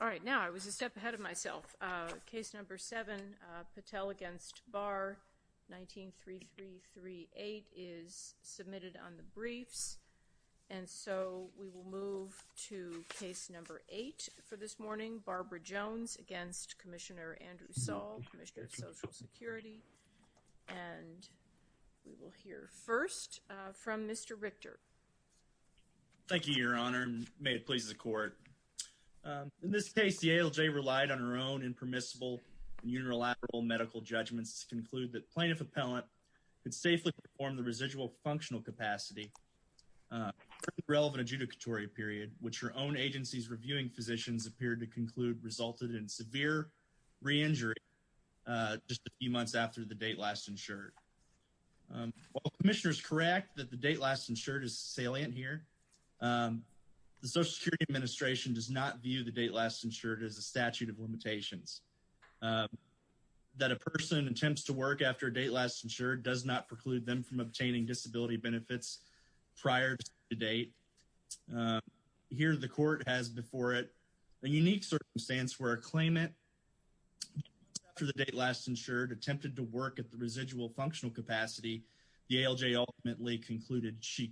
All right, now I was a step ahead of myself. Case number seven, Patel against Barr, 19-3338, is submitted on the briefs and so we will move to case number eight for this morning, Barbara Jones against Commissioner Andrew Saul, Commissioner of Social Security, and we will hear first from Mr. Richter. Thank you, Your Honor, and may it please the court. In this case, the ALJ relied on her own impermissible unilateral medical judgments to conclude that plaintiff appellant could safely perform the residual functional capacity relevant adjudicatory period, which her own agency's reviewing physicians appeared to conclude resulted in severe re-injury just a few months after the date last insured is salient here. The Social Security Administration does not view the date last insured as a statute of limitations. That a person attempts to work after a date last insured does not preclude them from obtaining disability benefits prior to date. Here the court has before it a unique circumstance where a claimant after the date last insured attempted to work at the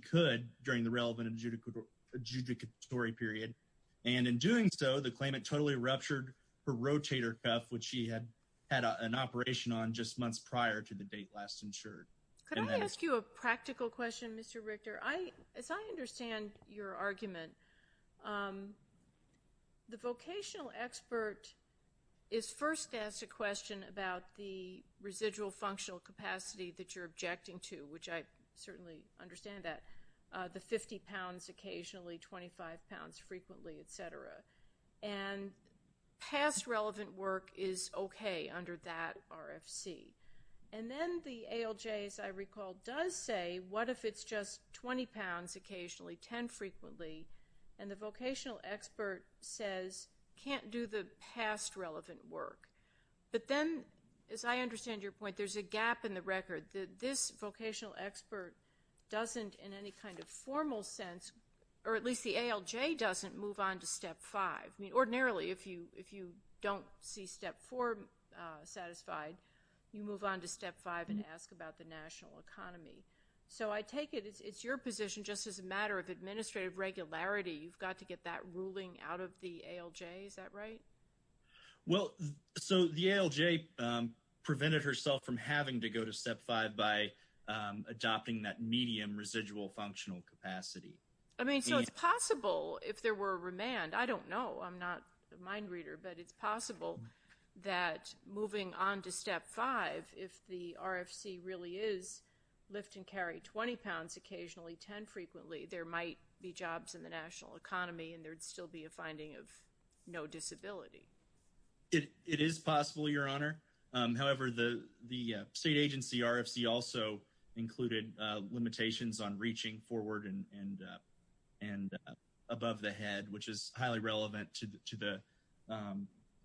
could during the relevant adjudicatory period and in doing so the claimant totally ruptured her rotator cuff, which she had had an operation on just months prior to the date last insured. Could I ask you a practical question, Mr. Richter? As I understand your argument, the vocational expert is first asked a question about the residual functional capacity that you're objecting to, which I certainly understand that, the 50 pounds occasionally, 25 pounds frequently, etc. And past relevant work is okay under that RFC. And then the ALJ, as I recall, does say what if it's just 20 pounds occasionally, 10 frequently, and the vocational expert says can't do the past relevant work. But then, as I understand your point, there's a gap in the record. This vocational expert doesn't in any kind of formal sense, or at least the ALJ doesn't move on to step five. I mean ordinarily if you if you don't see step four satisfied, you move on to step five and ask about the national economy. So I take it it's your position just as a matter of administrative regularity you've got to get that ruling out of the ALJ prevented herself from having to go to step five by adopting that medium residual functional capacity. I mean so it's possible if there were a remand, I don't know, I'm not a mind reader, but it's possible that moving on to step five, if the RFC really is lift and carry 20 pounds occasionally, 10 frequently, there might be jobs in the national economy and there'd still be a finding of no disability. It is possible, your honor. However, the the state agency RFC also included limitations on reaching forward and and above the head, which is highly relevant to the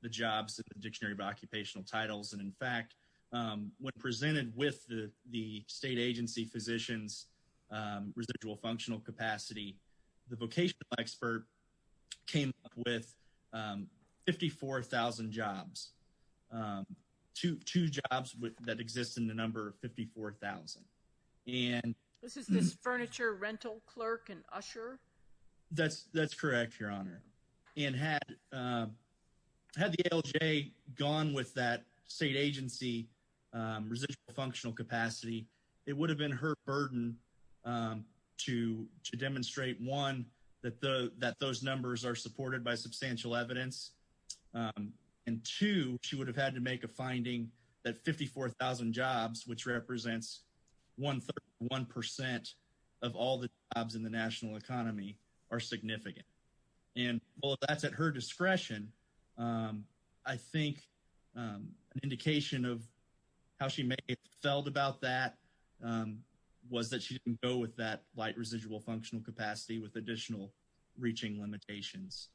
the jobs in the Dictionary of Occupational Titles. And in fact, when presented with the the state agency physicians residual functional capacity, the vocational expert came up with 54,000 jobs. Two jobs that exist in the number of 54,000. And this is this furniture rental clerk and usher? That's that's correct, your honor. And had the ALJ gone with that state agency residual functional capacity, it would have been her burden to demonstrate, one, that the that those numbers are supported by substantial evidence. And two, she would have had to make a finding that 54,000 jobs, which represents 131 percent of all the jobs in the national economy, are significant. And well, that's at her felt about that was that she didn't go with that light residual functional capacity with additional reaching limitations,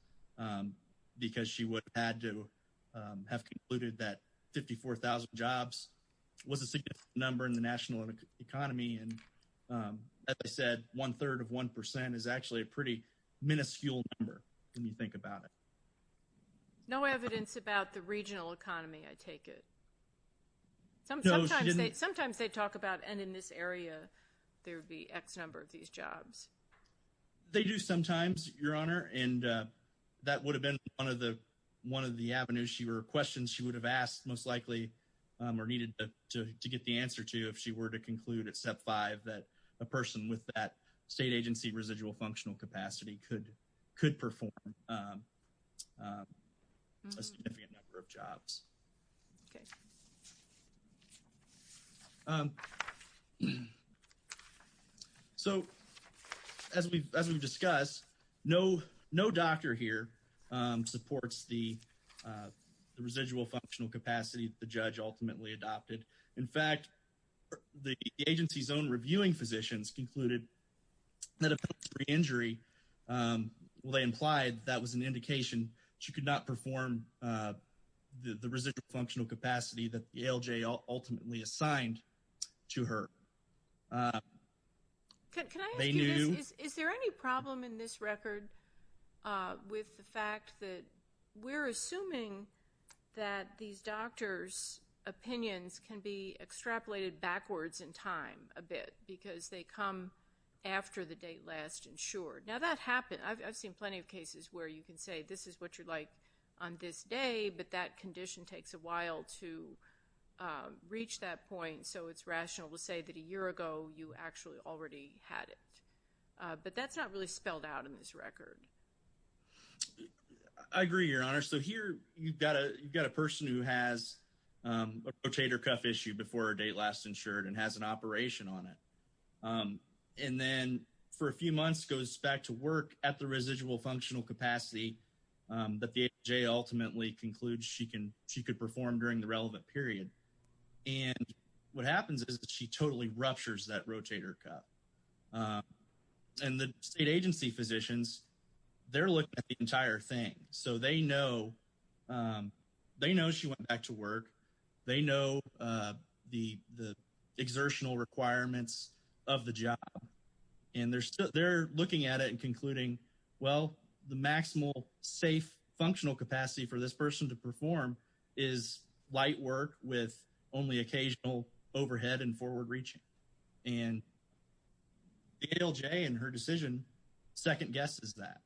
because she would have had to have concluded that 54,000 jobs was a significant number in the national economy. And as I said, one third of one percent is actually a pretty minuscule number when you think about it. No evidence about the regional economy, I mean, sometimes they talk about, and in this area, there would be X number of these jobs. They do sometimes, your honor, and that would have been one of the one of the avenues she were questions she would have asked most likely or needed to get the answer to if she were to conclude at step five that a person with that state agency residual functional capacity could could perform a significant number of jobs. So, as we've discussed, no doctor here supports the residual functional capacity the judge ultimately adopted. In fact, the agency's own reviewing physicians concluded that a penalty injury, well, they implied that was an indication she could not perform the residual functional capacity that the ALJ ultimately assigned to her. Can I ask you this? Is there any problem in this record with the fact that we're assuming that these doctors' opinions can be extrapolated backwards in time a bit because they come after the date last insured. Now, that happened. I've seen plenty of cases where you can say this is what you're like on this day, but that condition takes a while to reach that point, so it's rational to say that a year ago you actually already had it. But that's not really spelled out in this record. I agree, your honor. So here you've got a you've got a person who has a rotator cuff issue before a date last insured and has an operation on it. And then for a few months goes back to work at the residual functional capacity that the ALJ ultimately concludes she could perform during the relevant period. And what happens is she totally ruptures that rotator cuff. And the state agency physicians, they're looking at the entire thing. So they know she went back to work, they know the exertional requirements of the job, and they're looking at it and concluding, well, the maximal safe functional capacity for this person to perform is light work with only occasional overhead and forward reaching. And the ALJ in her decision second-guesses that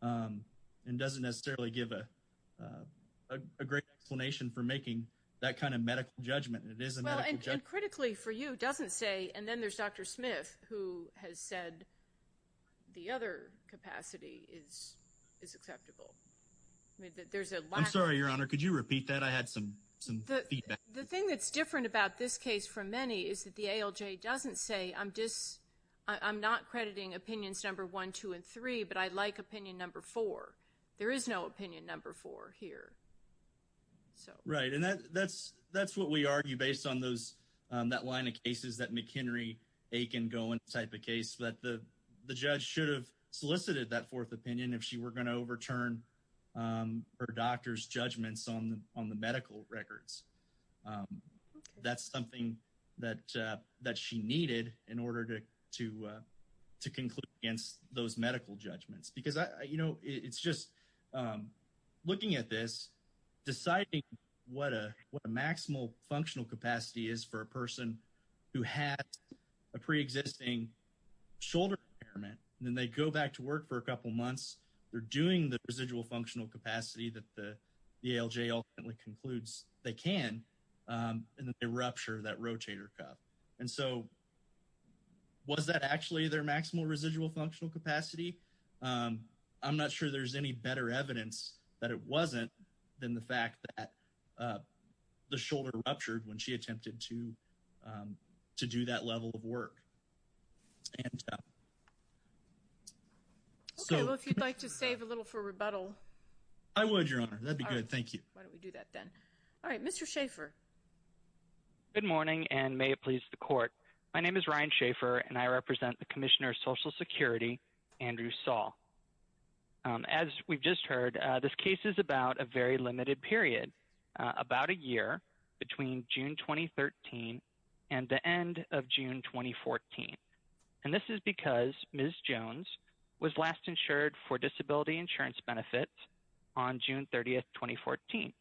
and doesn't necessarily give a great explanation for making that kind of medical judgment. And it is a medical judgment. And critically for you, it doesn't say, and then there's Dr. Smith who has said the other capacity is acceptable. I'm sorry, your honor. Could you repeat that? I had some feedback. The thing that's different about this case from many is that the ALJ doesn't say, I'm just, I'm not crediting opinions number one, two, and three, but I like opinion number four. There is no opinion number four here. Right, and that's what we like in the Aiken-Gowen type of case, but the judge should have solicited that fourth opinion if she were going to overturn her doctor's judgments on the medical records. That's something that she needed in order to conclude against those medical judgments. Because, you know, it's just looking at this, deciding what a maximal functional capacity is for a person who has a pre-existing shoulder impairment, and then they go back to work for a couple months, they're doing the residual functional capacity that the ALJ ultimately concludes they can, and then they rupture that rotator cuff. And so, was that actually their maximal residual functional capacity? I'm not sure there's any better evidence that it wasn't than the fact that the shoulder ruptured when she attempted to to do that level of work. Okay, well if you'd like to save a little for rebuttal. I would, Your Honor, that'd be good, thank you. Why don't we do that then. All right, Mr. Schaefer. Good morning, and may it please the court. My name is Ryan Schaefer, and I represent the Commissioner of Social Security, Andrew Saul. As we've just heard, this case is about a very limited period. About a year between June 2013 and the end of June 2014, and this is because Ms. Jones was last insured for disability insurance benefits on June 30th, 2014.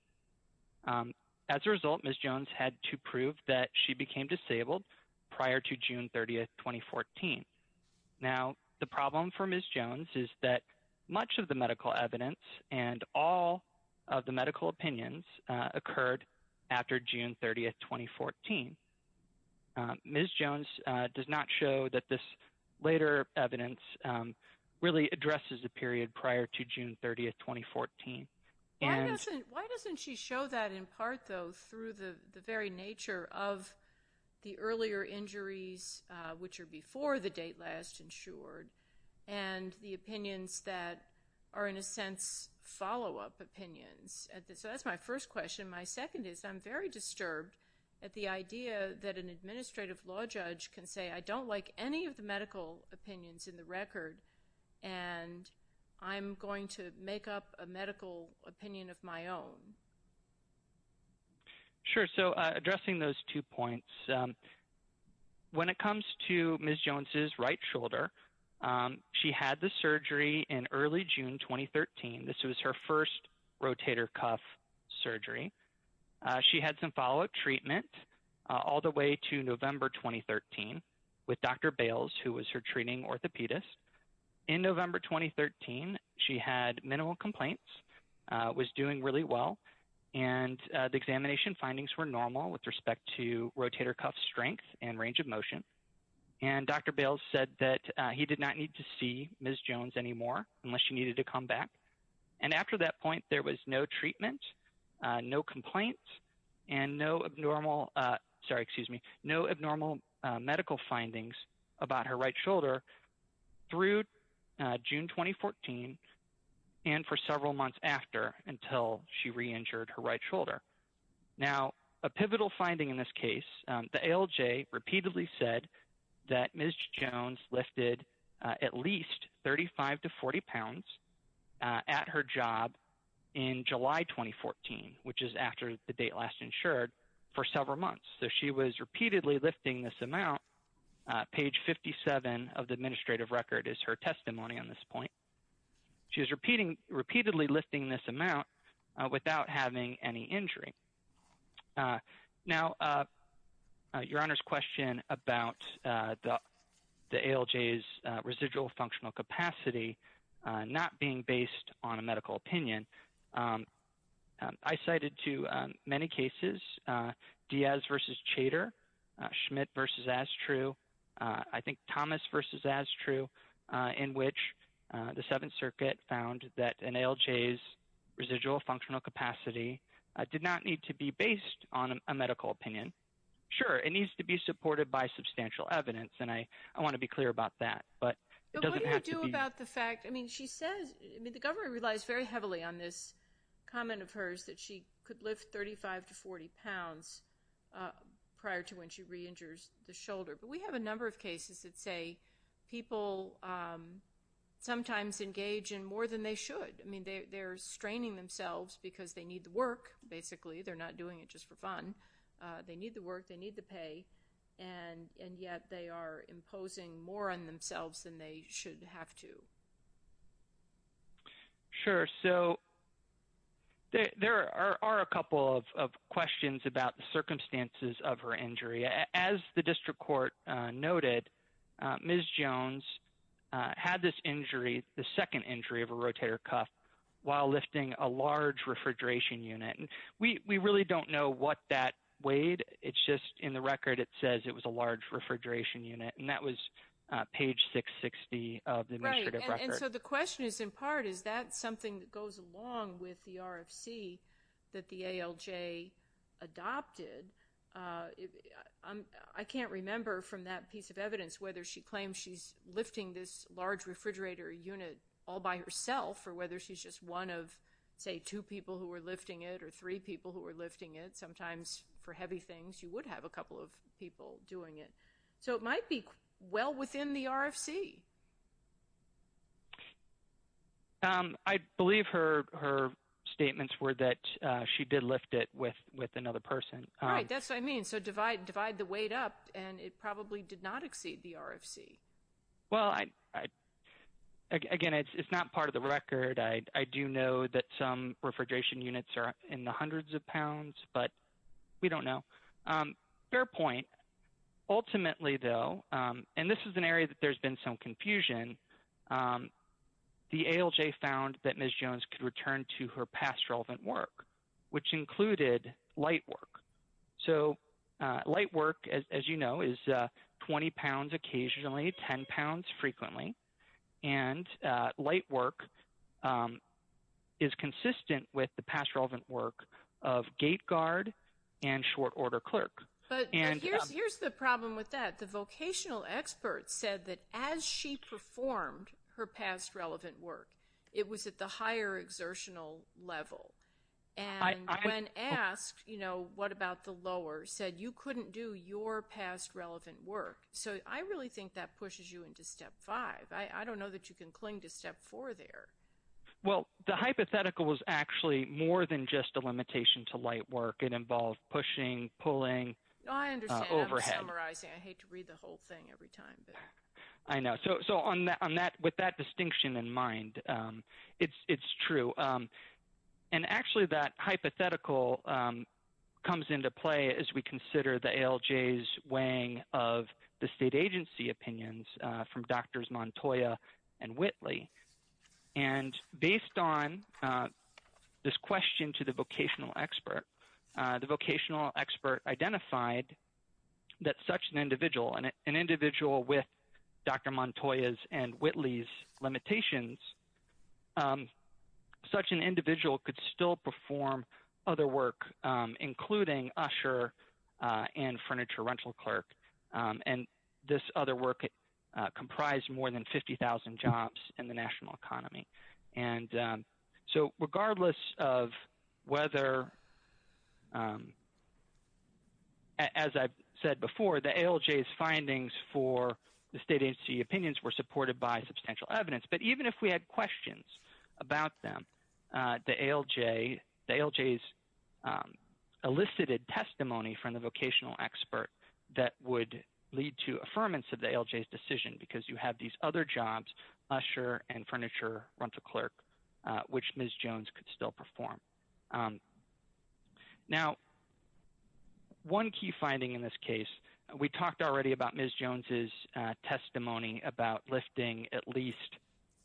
As a result, Ms. Jones had to prove that she became disabled prior to June 30th, 2014. Now, the problem for Ms. Jones is that much of the medical opinions occurred after June 30th, 2014. Ms. Jones does not show that this later evidence really addresses a period prior to June 30th, 2014. Why doesn't she show that in part, though, through the very nature of the earlier injuries, which are before the date last insured, and the opinions that are, in a sense, follow-up opinions? So that's my first question. My second is, I'm very disturbed at the idea that an administrative law judge can say, I don't like any of the medical opinions in the record, and I'm going to make up a medical opinion of my own. Sure, so addressing those two points, when it comes to Ms. Jones's right shoulder, she had the surgery in early June, 2013. This was her first rotator cuff surgery. She had some follow-up treatment all the way to November, 2013, with Dr. Bales, who was her treating orthopedist. In November, 2013, she had minimal complaints, was doing really well, and the examination findings were normal with respect to rotator cuff strength and anymore, unless she needed to come back. And after that point, there was no treatment, no complaints, and no abnormal medical findings about her right shoulder through June, 2014, and for several months after, until she re-injured her right shoulder. Now, a pivotal finding in this case, the ALJ repeatedly said that Ms. Jones lifted at least 35 to 40 pounds at her job in July, 2014, which is after the date last insured, for several months. So she was repeatedly lifting this amount. Page 57 of the administrative record is her testimony on this point. She was repeatedly lifting this amount without having any injury. Now, your Honor's question about the ALJ's residual functional capacity not being based on a medical opinion, I cited to many cases Diaz v. Chater, Schmidt v. Astrew, I think Thomas v. Astrew, in which the Seventh Circuit found that an ALJ's residual functional capacity did not need to be based on a medical opinion. Sure, it needs to be supported by substantial evidence, and I want to be clear about that, but it doesn't have to be. But what do you do about the fact, I mean, she says, I mean, the government relies very heavily on this comment of hers that she could lift 35 to 40 pounds prior to when she re-injures the shoulder. But we have a number of cases that say people sometimes engage in more than they should. I mean, they're straining themselves because they need the work, basically, they're not doing it just for fun. They need the work, they need the pay, and yet they are imposing more on themselves than they should have to. Sure, so there are a couple of questions about the circumstances of her injury. As the district court noted, Ms. Jones had this injury, the head or cuff, while lifting a large refrigeration unit. We really don't know what that weighed, it's just in the record it says it was a large refrigeration unit, and that was page 660 of the administrative record. Right, and so the question is, in part, is that something that goes along with the RFC that the ALJ adopted? I can't remember from that piece of evidence whether she claims she's lifting this large refrigerator unit all by herself or whether she's just one of, say, two people who are lifting it or three people who are lifting it. Sometimes for heavy things, you would have a couple of people doing it. So it might be well within the RFC. I believe her statements were that she did lift it with another person. Right, that's what I mean. So divide the probably did not exceed the RFC. Well, again, it's not part of the record. I do know that some refrigeration units are in the hundreds of pounds, but we don't know. Fair point. Ultimately, though, and this is an area that there's been some confusion, the ALJ found that Ms. Jones could return to her past relevant work, which included light work. So light work, as you know, is 20 pounds occasionally, 10 pounds frequently. And light work is consistent with the past relevant work of gate guard and short order clerk. But here's the problem with that. The vocational experts said that as she performed her past relevant work, it was at the higher exertional level. And when asked, you know, what about the lower said you couldn't do your past relevant work. So I really think that pushes you into step five. I don't know that you can cling to step four there. Well, the hypothetical was actually more than just a limitation to light work. It involved pushing, pulling overhead. I hate to read the whole thing every time. I know. So on that, with that distinction in mind, it's true. And actually, that hypothetical comes into play as we consider the ALJ's weighing of the state agency opinions from Drs. Montoya and Whitley. And based on this question to the vocational expert, the vocational expert identified that such an individual, an individual with Dr. Montoya's and Whitley's limitations, such an individual could still perform other work, including usher and furniture rental clerk. And this other work comprised more than 50,000 jobs in the national economy. And so regardless of whether, as I've said before, the ALJ's findings for the state agency opinions were supported by substantial evidence. But even if we had questions about them, the ALJ, the ALJ's elicited testimony from the vocational expert that would lead to affirmance of the ALJ's decision, because you have these other jobs, usher and furniture rental clerk, which Ms. Jones could still perform. Now, one key finding in this case, we talked already about Ms. Jones's testimony about lifting at least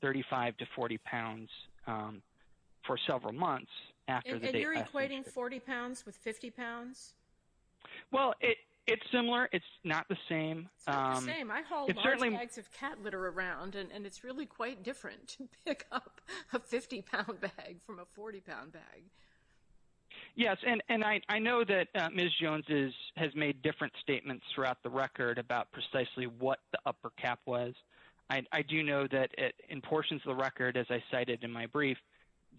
35 to 40 pounds for several months. And you're equating 40 pounds with 50 pounds? Well, it's similar. It's not the same. It's not the same. I haul large bags of cat litter around, and it's really quite different to pick up a 50-pound bag from a 40-pound bag. Yes. And I know that Ms. Jones has made different statements throughout the record about precisely what the upper cap was. I do know that in portions of the record, as I cited in my brief,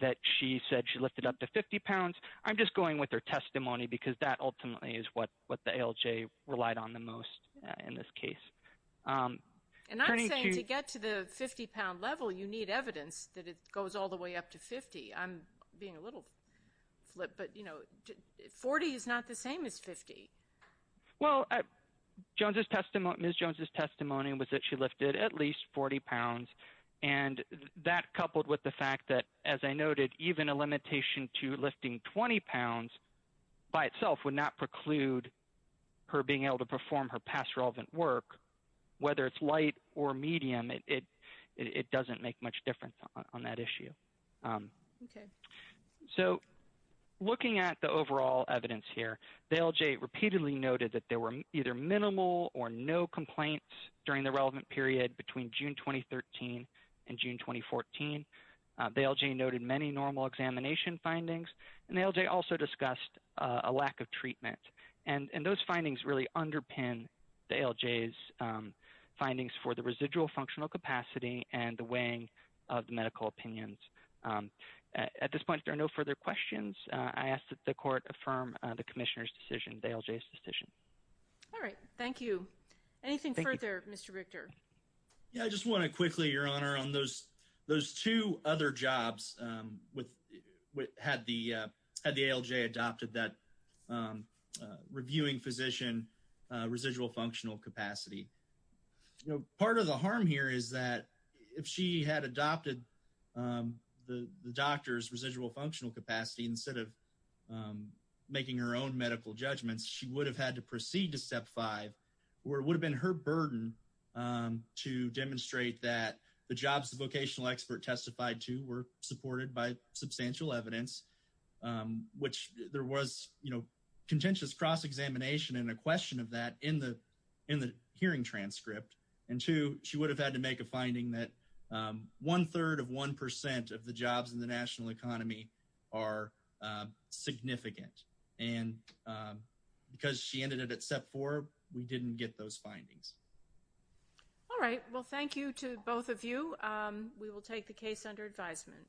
that she said she lifted up to 50 pounds. I'm just going with her testimony, because that ultimately is what the ALJ relied on the most in this case. And I'm saying to get to the 50-pound level, you need evidence that it goes all the way up to 50. I'm being a little flip, but, you know, 40 is not the same as 50. Well, Ms. Jones's testimony was that she lifted at least 40 pounds. And that coupled with the fact that, as I noted, even a limitation to lifting 20 pounds by itself would not preclude her being able to perform her past relevant work, whether it's light or medium. It doesn't make much difference on that issue. Okay. So looking at the overall evidence here, the ALJ repeatedly noted that there were either minimal or no complaints during the relevant period between June 2013 and June 2014. The ALJ noted many normal examination findings, and the ALJ also discussed a lack of treatment. And those findings really underpin the ALJ's findings for the residual functional capacity and the weighing of the medical opinions. At this point, if there are no further questions, I ask that the court affirm the commissioner's decision, the ALJ's decision. All right. Thank you. Anything further, Mr. Richter? Yeah, I just want to quickly, Your Honor, on those two other jobs had the ALJ adopted that residual functional capacity. You know, part of the harm here is that if she had adopted the doctor's residual functional capacity instead of making her own medical judgments, she would have had to proceed to step five, where it would have been her burden to demonstrate that the jobs the vocational expert testified to were supported by substantial evidence, which there was, you know, contentious cross-examination and a question of that in the hearing transcript. And two, she would have had to make a finding that one-third of one percent of the jobs in the national economy are significant. And because she ended it at step four, we didn't get those findings. All right. Well, thank you to both of you. We will take the case under advisement.